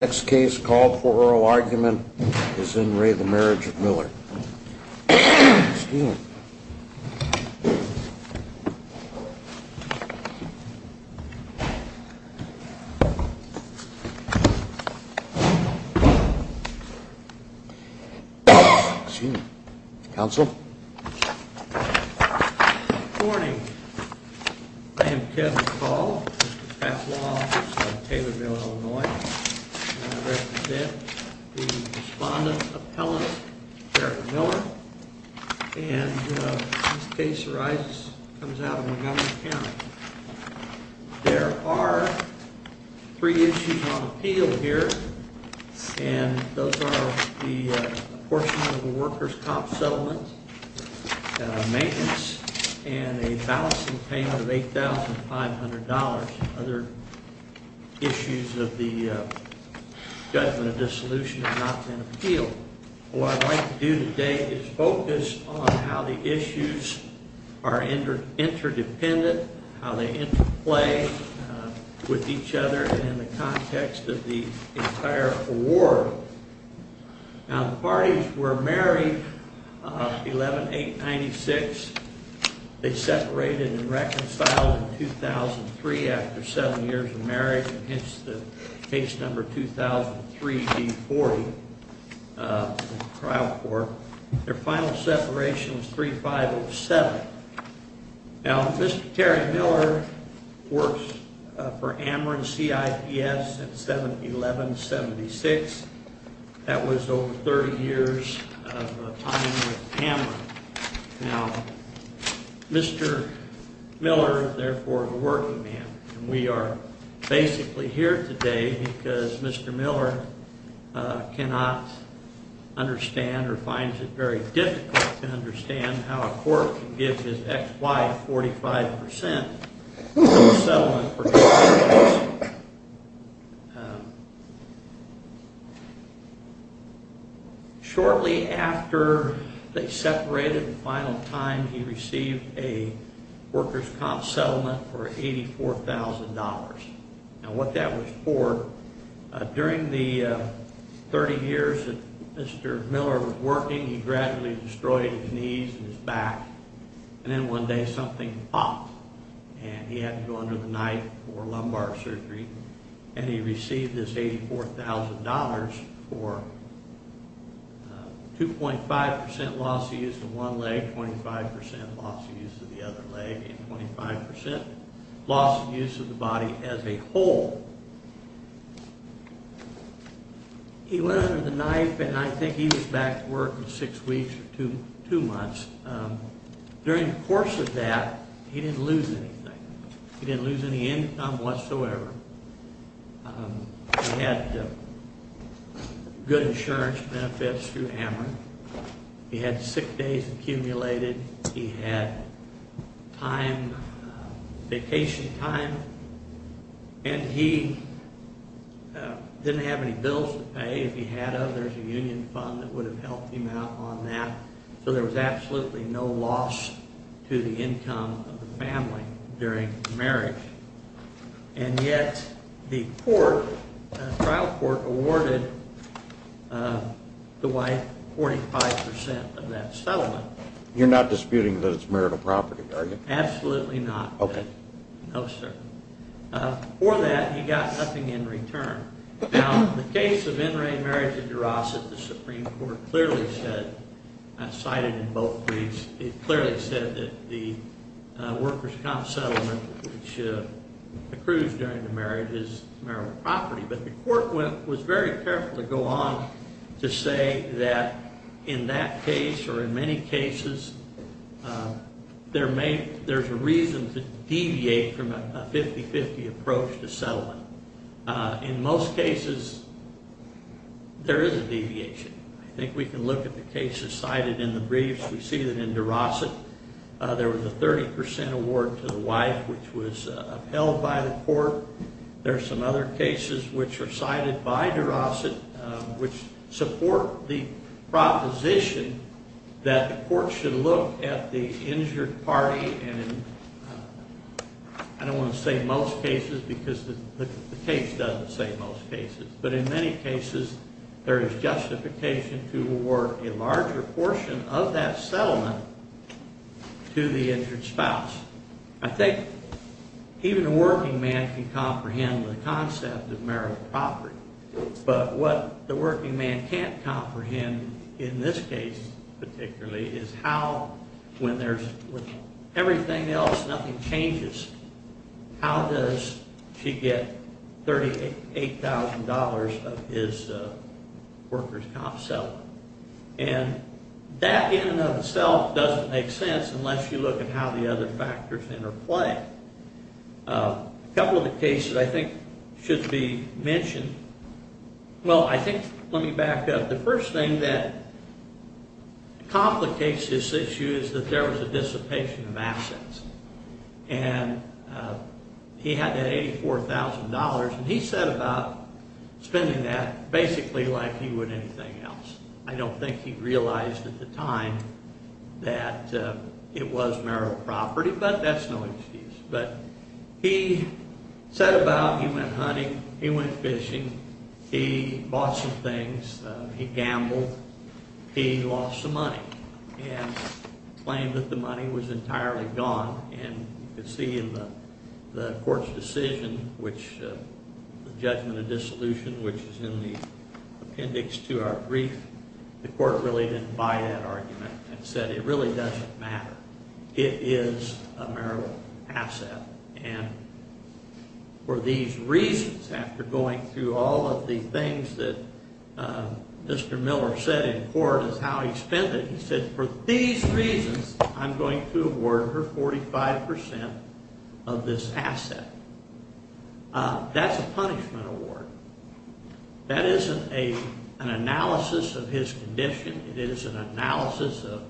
Next case called for oral argument is in re the Marriage of Miller. Council. Morning. Taylorville, Illinois. Yeah. Respondent appellant Miller. Case arises. There are three issues on appeal here. And those are the portion of the workers top settlement maintenance and a balancing payment of $8,500 other issues of the judgment of disillusioned appeal. What I'd like to do today is focus on how the issues are entered interdependent how they interplay with each other and in the context of the entire war. Now the parties were married 11 896. They separated and reconciled in 2003 after seven years of 340 trial for their final separation was 3507. Now, Mr. Terry Miller works for Amarin C. I. P. S. At 711 76. That was over 30 years. Now, Mr. Miller, therefore working man. We are basically here today because Mr. Miller cannot understand or finds it very difficult to understand how a court gives his ex-wife 45% shortly after they separated the final time. He received a workers top settlement for $84,000 and what that was for during the 30 years that Mr. Miller was working. He gradually destroyed his knees and his back and then one day something popped and he had to go under the knife or lumbar surgery and he received this $84,000 for 2.5% loss. The one leg 25% loss of use of the other leg and 25% loss of use of the body as a whole. He went under the knife and I think he was back to work in six weeks or two, two months. During the course of that, he didn't lose anything. He didn't lose any income whatsoever. He had good insurance benefits through Amarin. He had six days accumulated. He had time vacation time and he didn't have any bills to pay. If he had others a union fund that would have helped him out on that. So there was absolutely no loss to the income of the family during marriage. And yet the court trial court awarded the wife 45% of that settlement. You're not disputing that it's marital property, are you? Absolutely not. Okay. No, sir. For that, he got nothing in return. The case of in-ring marriage at DeRosette, the Supreme Court clearly said, cited in both briefs, it clearly said that the workers comp settlement, which accrues during the marriage is marital property. But the court was very careful to go on to say that in that case or in many cases, there's a reason to deviate from a 50-50 approach to settlement. In most cases, there is a deviation. I think we can look at the cases cited in the briefs. We see that in DeRosette, there was a 30% award to the wife, which was upheld by the court. There are some other cases which are cited by DeRosette, which support the proposition that the court should look at the injured party and I don't want to say most cases because the case doesn't say most cases. But in many cases, there is justification to award a larger portion of that settlement to the injured spouse. I think even a working man can comprehend the concept of marital property. But what the working man can't comprehend, in this case particularly, is how, when there's everything else, nothing changes. How does she get $38,000 of his workers comp settlement? And that in and of itself doesn't make sense unless you look at how the other factors interplay. A couple of the cases I think should be mentioned. Well, I think, let me back up. The first thing that complicates this issue is that there was a dissipation of assets and he had that $84,000 and he said about spending that basically like he would anything else. I don't think he realized at the time that it was marital property, but that's no excuse. But he said about, he went hunting, he went fishing, he bought some things, he gambled, he lost some money and claimed that the money was entirely gone. And you can see in the the court's decision, which the judgment of dissolution, which is in the appendix to our brief, the court really didn't buy that argument and said it really doesn't matter. It is a marital asset and for these reasons, after going through all of the things that Mr. Miller said in court is how he spent it, he said for these reasons, I'm going to award her 45% of this asset. That's a punishment award. That isn't an analysis of his condition. It is an analysis of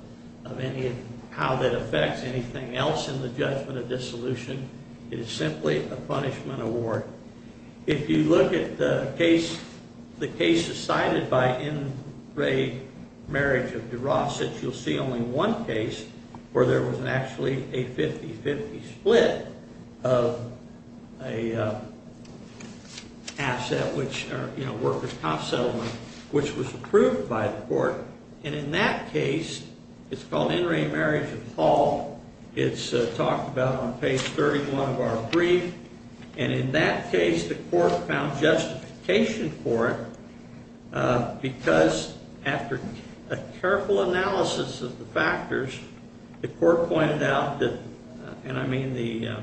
how that affects anything else in the judgment of dissolution. It is simply a punishment award. If you look at the case, the case decided by Ingray marriage of DeRoss, that you'll see only one case where there was actually a 50-50 split of a asset which, you know, workers' comp settlement, which was approved by the court. And in that case, it's called Ingray marriage of Hall. It's talked about on page 31 of our brief. And in that case, the court found justification for it because after a careful analysis of the factors, the court pointed out that, and I mean the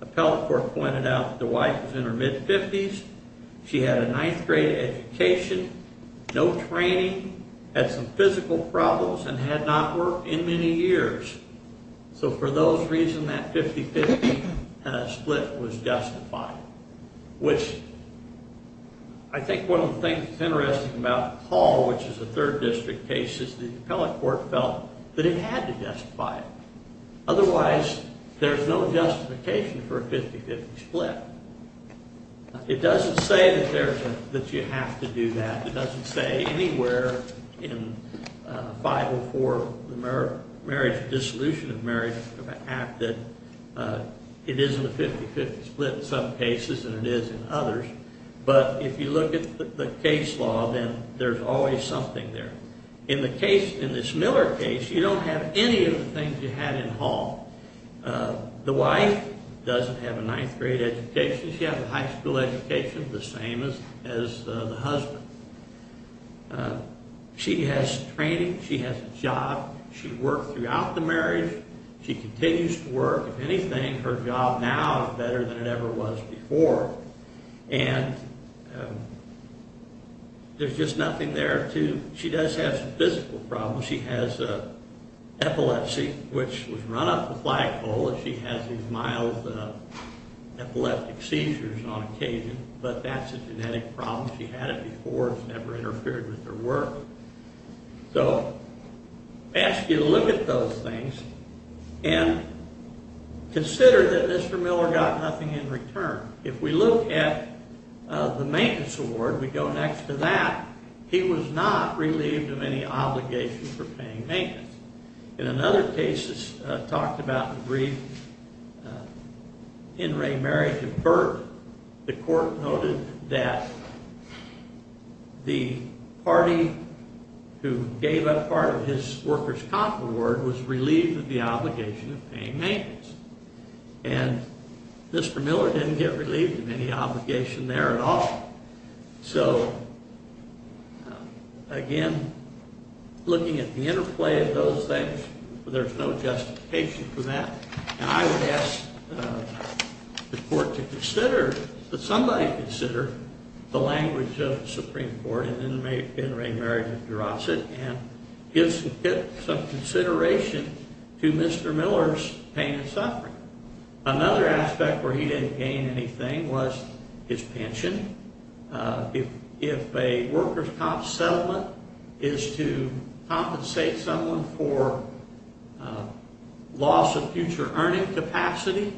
appellate court pointed out that the wife was in her mid-50s. She had a ninth grade education, no training, had some physical problems, and had not worked in many years. So for those reasons, that 50-50 split was justified, which I think one of the things that's interesting about Hall, which is a third district case, is the appellate court felt that it had to justify it. Otherwise, there's no justification for a 50-50 split. It doesn't say that you have to do that. It doesn't say anywhere in 504, Marriage Dissolution of Marriage Act that it isn't a 50-50 split in some cases, and it is in others. But if you look at the case law, then there's always something there. In the case, in this Miller case, you don't have any of the things you had in Hall. The wife doesn't have a ninth grade education. She has a high school education, the same as the husband. She has training. She has a job. She worked throughout the marriage. She continues to work. If anything, her job now is better than it ever was before. And there's just nothing there to, she does have some physical problems. She has epilepsy, which was run up the flagpole. She has these mild epileptic seizures on occasion, but that's a genetic problem. She had it before. It's never interfered with her work. So, I ask you to look at those things and consider that Mr. Miller got nothing in return. If we look at the maintenance award, we go next to that, he was not relieved of any obligation for paying maintenance. In another case, it's talked about in the brief, In Re Marriage of Burke, the court noted that the party who gave up part of his workers' comp award was relieved of the obligation of paying maintenance. And Mr. Miller didn't get relieved of any obligation there at all. So, again, looking at the interplay of those things, there's no justification for that. And I would ask the court to consider, that somebody consider the language of the Supreme Court in In Re Marriage of Durosset and give some consideration to Mr. Miller's pain and suffering. Another aspect where he didn't gain anything was his pension. If a workers' comp settlement is to compensate someone for loss of future earning capacity,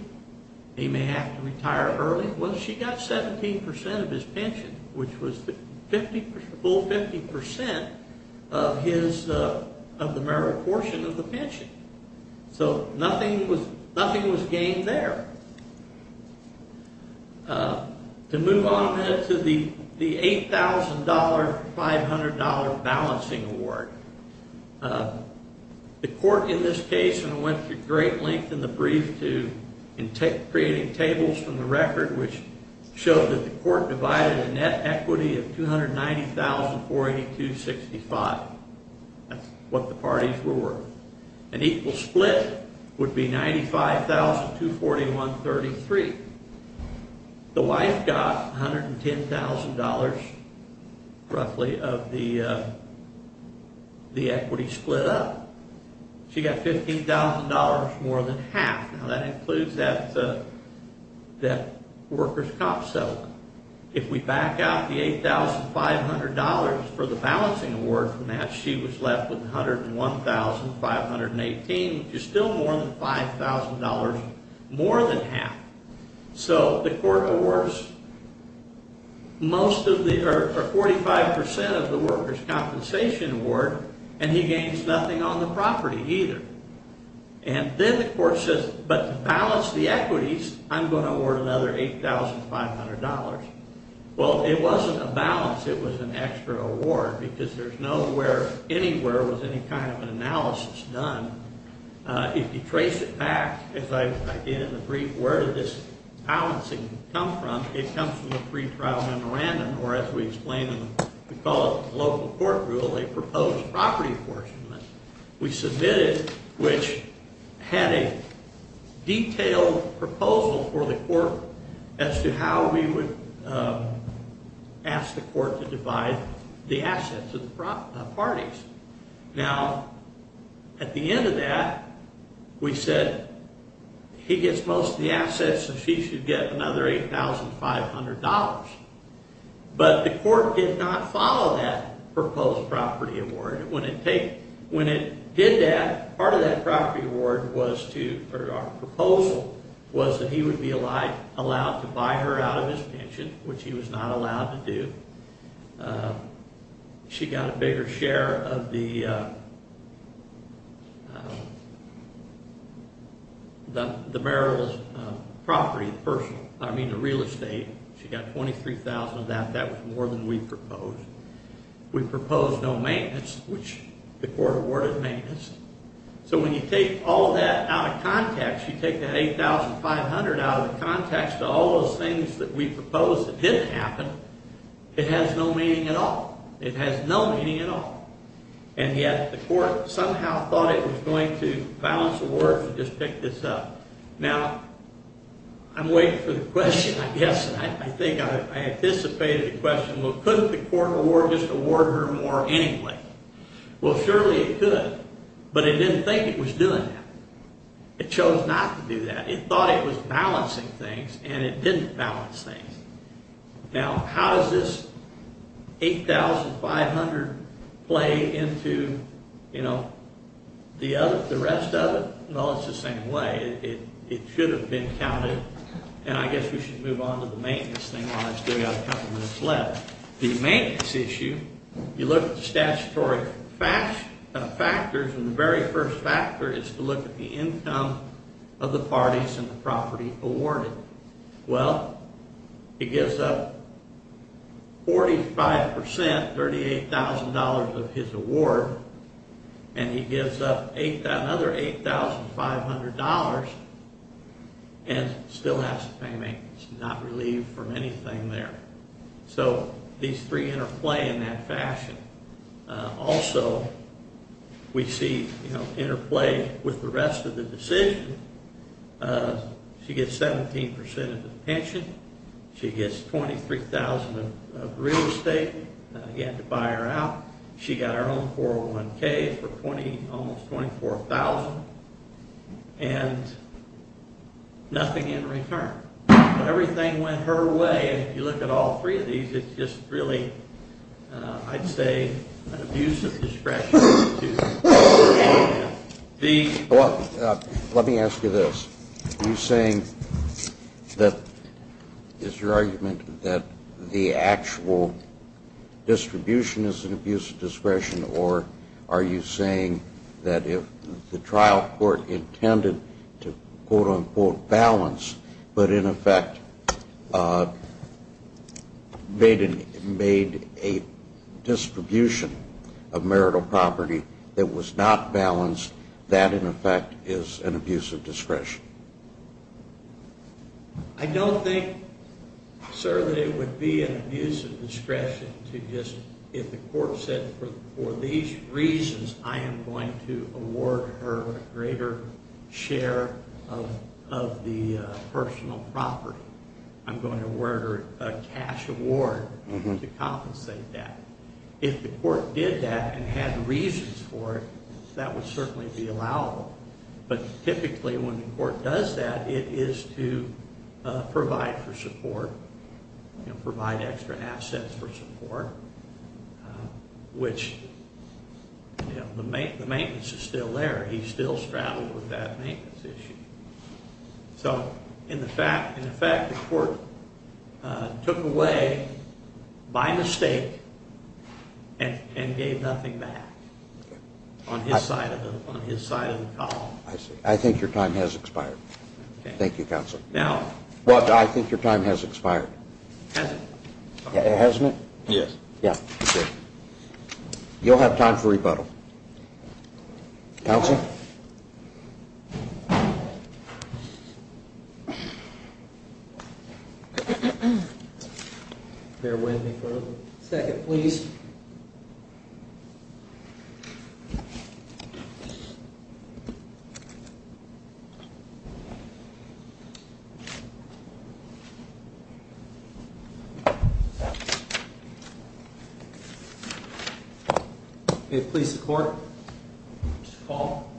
he may have to retire early, well, she got 17% of his pension, which was the full 50% of his, of the marital portion of the pension. So, nothing was gained there. To move on to the $8,000, $500 balancing award. The court in this case, and went to great length in the brief to in creating tables from the record, which showed that the court divided a net equity of $290,482.65. That's what the parties were worth. An equal split would be $95,241.33. The wife got $110,000 roughly of the the equity split up. She got $15,000 more than half. Now, that includes that that workers' comp settlement. If we back out the $8,500 for the balancing award from that, she was left with $101,518, which is still more than $5,000, more than half. So, the court awards most of the, or 45% of the workers' compensation award, and he gains nothing on the property either. And then the court says, but to balance the equities, I'm going to award another $8,500. Well, it wasn't a balance. It was an extra award because there's nowhere, anywhere was any kind of an analysis done. If you trace it back, as I did in the brief, where did this balancing come from? It comes from the pre-trial memorandum, or as we explain in the, we call it the local court rule, a proposed property apportionment. We submitted, which had a detailed proposal for the court as to how we would ask the court to divide the assets of the parties. Now, at the end of that, we said, he gets most of the assets, so she should get another $8,500. But the court did not follow that proposed property award. When it did that, part of that property award was to, or our proposal was that he would be allowed to buy her out of his pension, which he was not allowed to do. She got a bigger share of the the Merrill's property, the personal, I mean the real estate. She got $23,000 of that. That was more than we proposed. We proposed no maintenance, which the court awarded maintenance. So when you take all that out of context, you take that $8,500 out of the context of all those things that we proposed that didn't happen, it has no meaning at all. It has no meaning at all. And yet the court somehow thought it was going to balance the work and just pick this up. Now, I'm waiting for the question, I guess. I think I anticipated the question. Couldn't the court award just award her more anyway? Well, surely it could. But it didn't think it was doing that. It chose not to do that. It thought it was balancing things and it didn't balance things. Now, how does this $8,500 play into, you know, the other, the rest of it? Well, it's the same way. It should have been counted. And I guess we should move on to the maintenance thing while we still have a couple minutes left. The maintenance issue, you look at the statutory factors and the very first factor is to look at the income of the parties and the property awarded. Well, it gives up 45%, $38,000 of his award and he gives up another $8,500 and still has to pay maintenance. Not relieved from anything there. So these three interplay in that fashion. Also, we see, you know, interplay with the rest of the decision. She gets 17% of the pension. She gets $23,000 of real estate. He had to buy her out. She got her own 401k for almost $24,000 and nothing in return. Everything went her way. And if you look at all three of these, it's just really, I'd say, an abuse of discretion. Let me ask you this. Are you saying that, is your argument that the actual distribution is an abuse of discretion? Or are you saying that if the trial court intended to quote-unquote balance, but in effect made a distribution of marital property that was not balanced, that in effect is an abuse of discretion? I don't think, sir, that it would be an abuse of discretion to just, if the court said for these reasons, I am going to award her a greater share of the personal property. I'm going to award her a cash award to compensate that. If the court did that and had reasons for it, that would certainly be allowable. But typically when the court does that, it is to provide for support, provide extra assets for support, which the maintenance is still there. He's still straddled with that maintenance issue. So in the fact that the court took away by mistake and gave nothing back on his side of the call. I see. I think your time has expired. Thank you, Counselor. Now. What? I think your time has expired. Hasn't it? Yes. Yeah. You'll have time for rebuttal. Counselor. They're waiting for a second, please. Please support. Paul.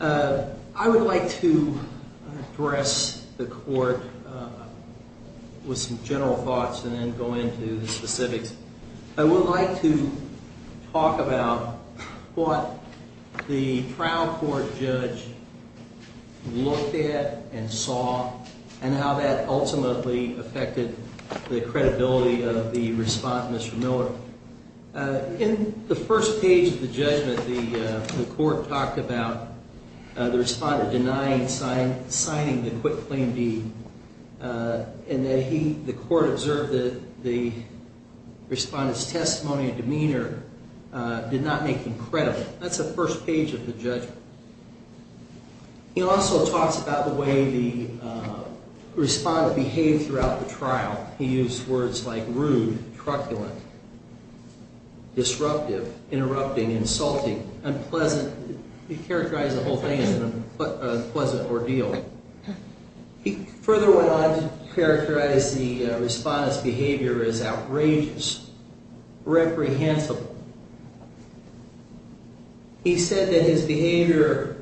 I would like to address the court with some general thoughts and then go into the specifics. I would like to talk about what the trial court judge looked at and saw and how that ultimately affected the credibility of the respondent, Mr. Miller. In the first page of the judgment, the court talked about the respondent denying signing the quit claim deed and that he, the court observed that the respondent's testimony and demeanor did not make him credible. That's the first page of the judgment. He also talks about the way the respondent behaved throughout the trial. He used words like rude, truculent, disruptive, interrupting, insulting, unpleasant. He characterized the whole thing as an unpleasant ordeal. He further went on to characterize the respondent's behavior as outrageous, reprehensible, and deplorable. He said that his behavior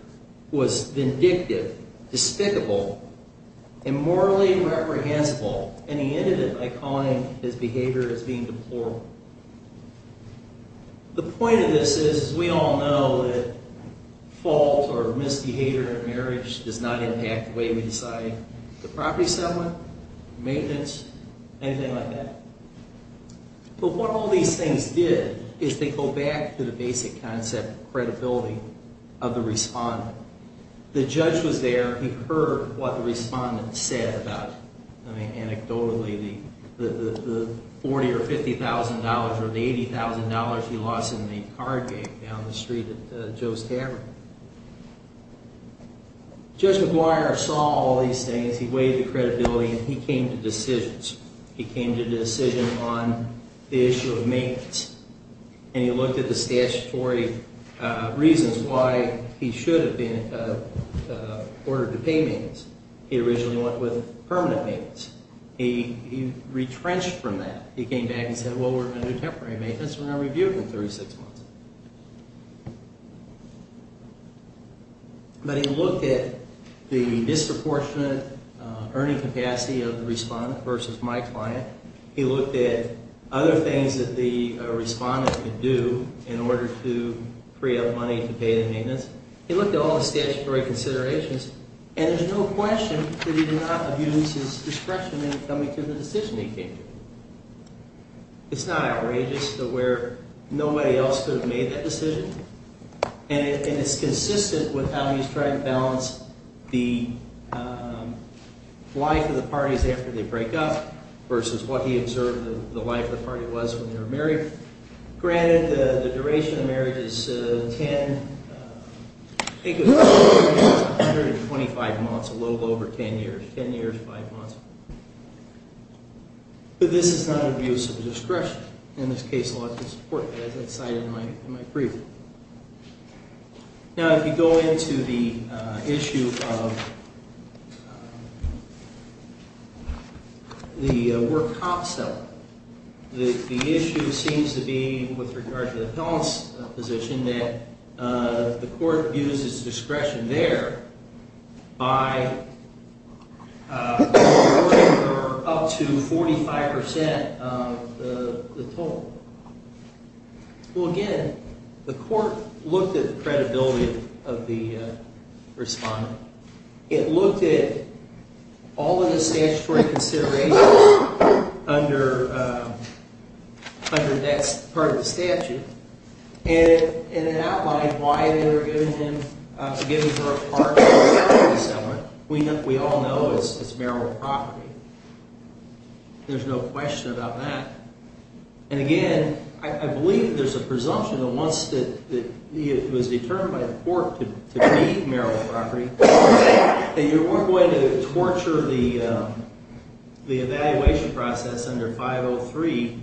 was vindictive, despicable, immorally reprehensible, and he ended it by calling his behavior as being deplorable. The point of this is, we all know that fault or misbehavior in marriage does not impact the way we decide the property settlement, maintenance, anything like that. But what all these things did is they go back to the basic concept of credibility of the respondent. The judge was there. He heard what the respondent said about, I mean, anecdotally, the $40,000 or $50,000 or the $80,000 he lost in the card game down the street at Joe's Tavern. Judge McGuire saw all these things. He weighed the credibility and he came to decisions. He came to a decision on the issue of maintenance. And he looked at the statutory reasons why he should have been ordered to pay maintenance. He originally went with permanent maintenance. He retrenched from that. He came back and said, well, we're going to do temporary maintenance. We're going to review it in 36 months. But he looked at the disproportionate earning capacity of the respondent versus my client. He looked at other things that the respondent could do in order to free up money to pay the maintenance. He looked at all the statutory considerations and there's no question that he did not abuse his discretion in coming to the decision he came to. It's not outrageous that where nobody else could have made that decision and it's consistent with how he's trying to balance the life of the parties after they break up versus what he observed the life of the party was when they were married. Granted, the duration of the marriage is 10, I think it was 125 months, a little over 10 years, 10 years, 5 months. But this is not an abuse of discretion. In this case, a lot of support, as I cited in my preview. Now, if you go into the issue of the work comps element, the issue seems to be with regard to the appellant's position that the court abuses discretion there by up to 45% of the total. Well, again, the court looked at the credibility of the respondent. It looked at all of the statutory consideration under under that part of the statute and it outlined why they were giving him giving her a part of the appellant's element. We all know it's marital property. There's no question about that. And again, I believe there's a presumption that once that it was determined by the court to be marital property, that you weren't going to torture the the evaluation process under 503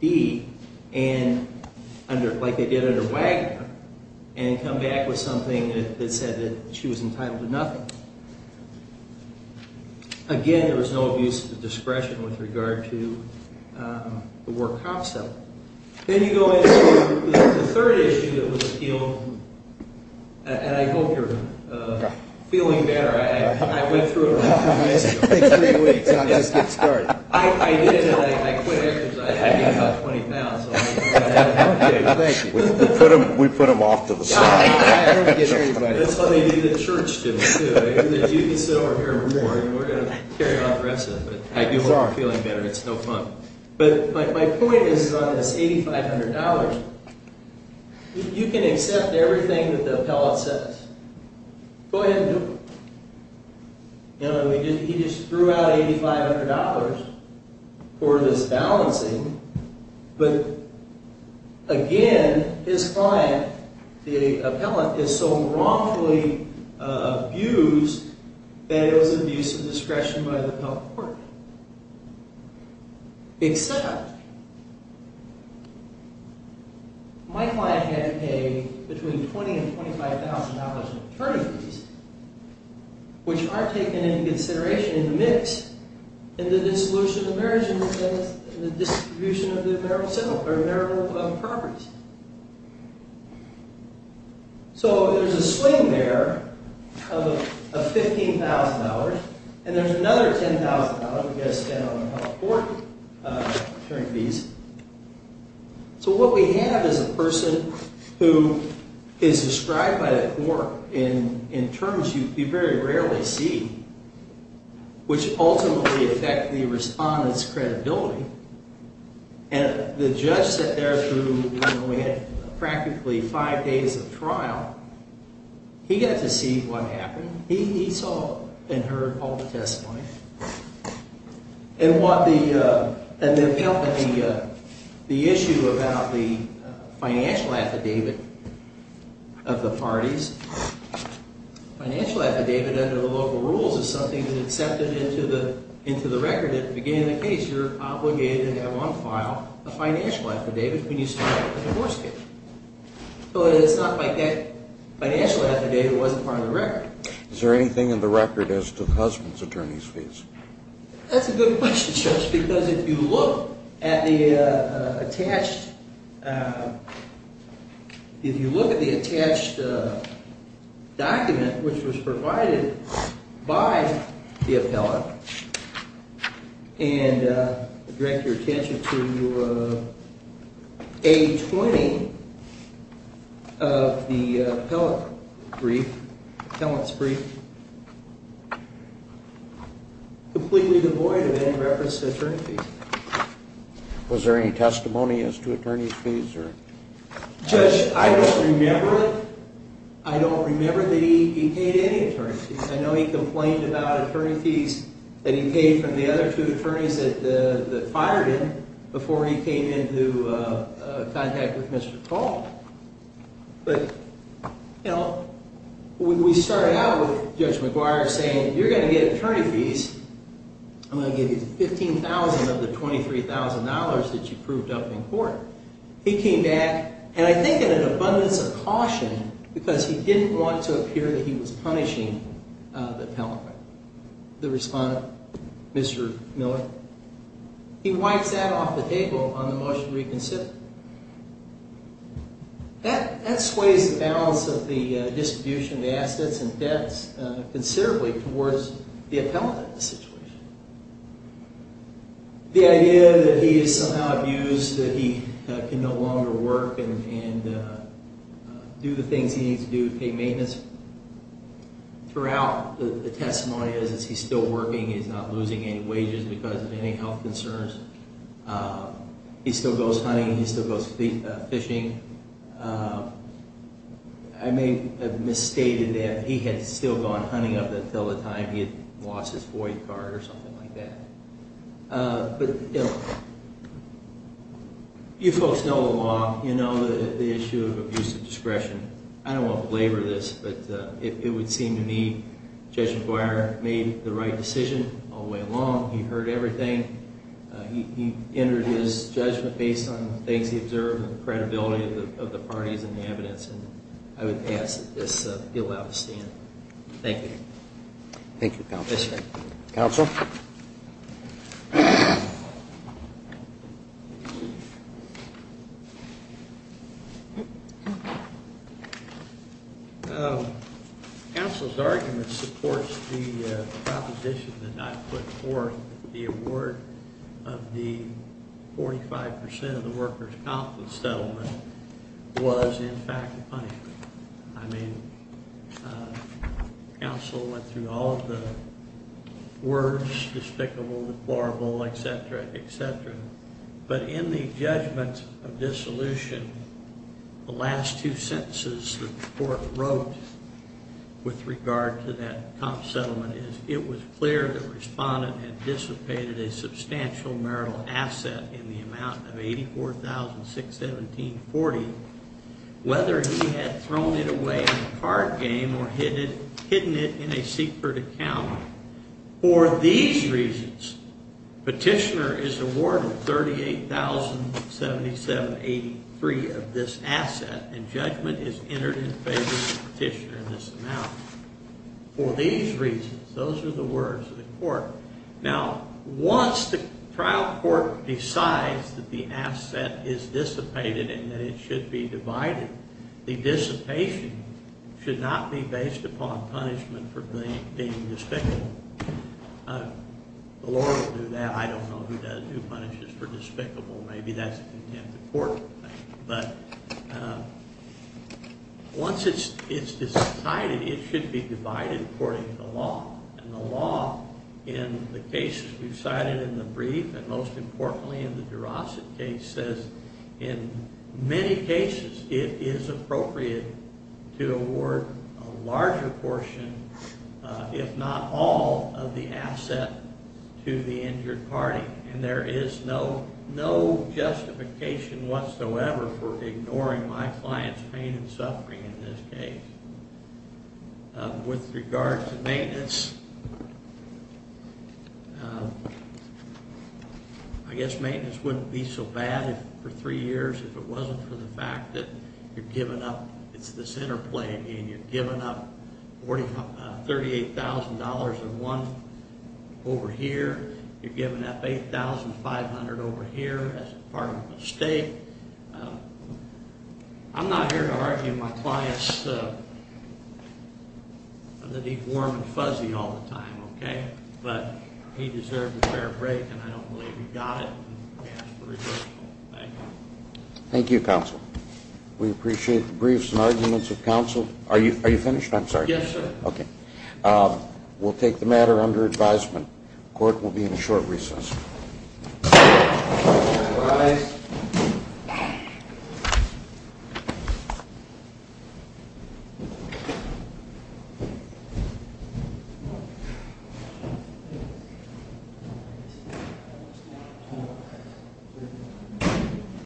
D and under, like they did under Wagner and come back with something that said that she was entitled to nothing. Again, there was no abuse of discretion with regard to the work comps element. Then you go into the third issue that was appealed and I hope you're feeling better. We put them off to the side. My point is on this $8,500. You can accept everything that the appellate says. Go ahead and do it. You know, he just threw out $8,500 for this balancing but again, his client, the appellant, is so wrongfully abused that it was abuse of discretion by the public court. Except that my client had to pay between $20,000 and $25,000 in attorney fees which aren't taken into consideration in the mix in the dissolution of marriage and the distribution of the marital symbol or marital properties. So there's a swing there of $15,000 and there's another $10,000 we got to spend on a health board attorney fees. So what we have is a person who is described by the court in terms you very rarely see which ultimately affect the respondent's credibility and the judge sat there through practically five days of trial. He got to see what happened. He saw and heard all the testimony and and what the the issue about the financial affidavit of the parties. Financial affidavit under the local rules is something that is accepted into the into the record. At the beginning of the case, you're obligated to have on file a financial affidavit when you start a divorce case. So it's not like that financial affidavit wasn't part of the record. Is there anything in the record as to the husband's attorney's fees? That's a good question, Judge, because if you look at the attached if you look at the attached document which was provided by the appellate and direct your attention to A20 of the appellate brief appellate's brief completely devoid of any reference to attorney fees. Was there any testimony as to attorney's fees or Judge, I don't remember it. I don't remember that he paid any attorney fees. I know he complained about attorney fees that he paid from the other two attorneys that fired him before he came into contact with Mr. Paul. But you know when we started out with Judge McGuire saying you're going to get attorney fees. I'm going to give you 15,000 of the $23,000 that you proved up in court. He came back and I think in an abundance of caution because he didn't want to appear that he was punishing the appellate the respondent Mr. Miller. He wipes that off the table on the motion reconsidered. That that sways the balance of the distribution of the assets and debts considerably towards the appellate in this situation. The idea that he is somehow abused that he can no longer work and do the things he needs to do to pay maintenance. Throughout the testimony is he's still working. He's not losing any wages because of any health concerns. He still goes hunting. He still goes fishing. I may have misstated that he had still gone hunting up until the time he had lost his boy car or something like that. But you folks know the law, you know, the issue of abuse of discretion. I don't want to belabor this but it would seem to me Judge McGuire made the right decision all the way along. He heard everything. He entered his judgment based on the things he observed and the credibility of the parties and the evidence. And I would ask that this be allowed to stand. Thank you. Thank you. Counsel. Counsel's argument supports the proposition that I put forth. The award of the 45% of the workers confidence settlement was in fact a punishment. I mean Counsel went through all of the words, despicable, deplorable, etc, etc. But in the judgment of dissolution, the last two sentences the court wrote with regard to that comp settlement is it was clear that respondent had dissipated a substantial marital asset in the amount of $84,617.40. Whether he had thrown it away in a card game or hidden it in a secret account. For these reasons, petitioner is awarded $38,077.83 of this asset and judgment is entered in favor of the petitioner in this amount. For these reasons, those are the words of the court. Now, once the trial court decides that the asset is dissipated and that it should be divided, the dissipation should not be based upon punishment for being despicable. The Lord will do that. I don't know who does, who punishes for despicable. Maybe that's a contempt of court thing. But once it's decided, it should be divided according to the law. And the law, in the cases we've cited in the brief and most importantly in the Durosset case, says in many cases it is appropriate to award a larger portion, if not all, of the asset to the injured party. And there is no justification whatsoever for ignoring my client's pain and suffering in this case. With regard to maintenance, I guess maintenance wouldn't be so bad for three years if it wasn't for the fact that you've given up, it's this interplay again, you've given up $38,000 in one over here, you've given up $8,500 over here as part of a mistake. I'm not here to argue my client's, that he's warm and fuzzy all the time, okay? But he deserved a fair break and I don't believe he got it. Thank you, counsel. We appreciate the briefs and arguments of counsel. Are you finished? I'm sorry. Yes, sir. Okay. We'll take the matter under advisement. Court will be in a short recess. Thank you, guys.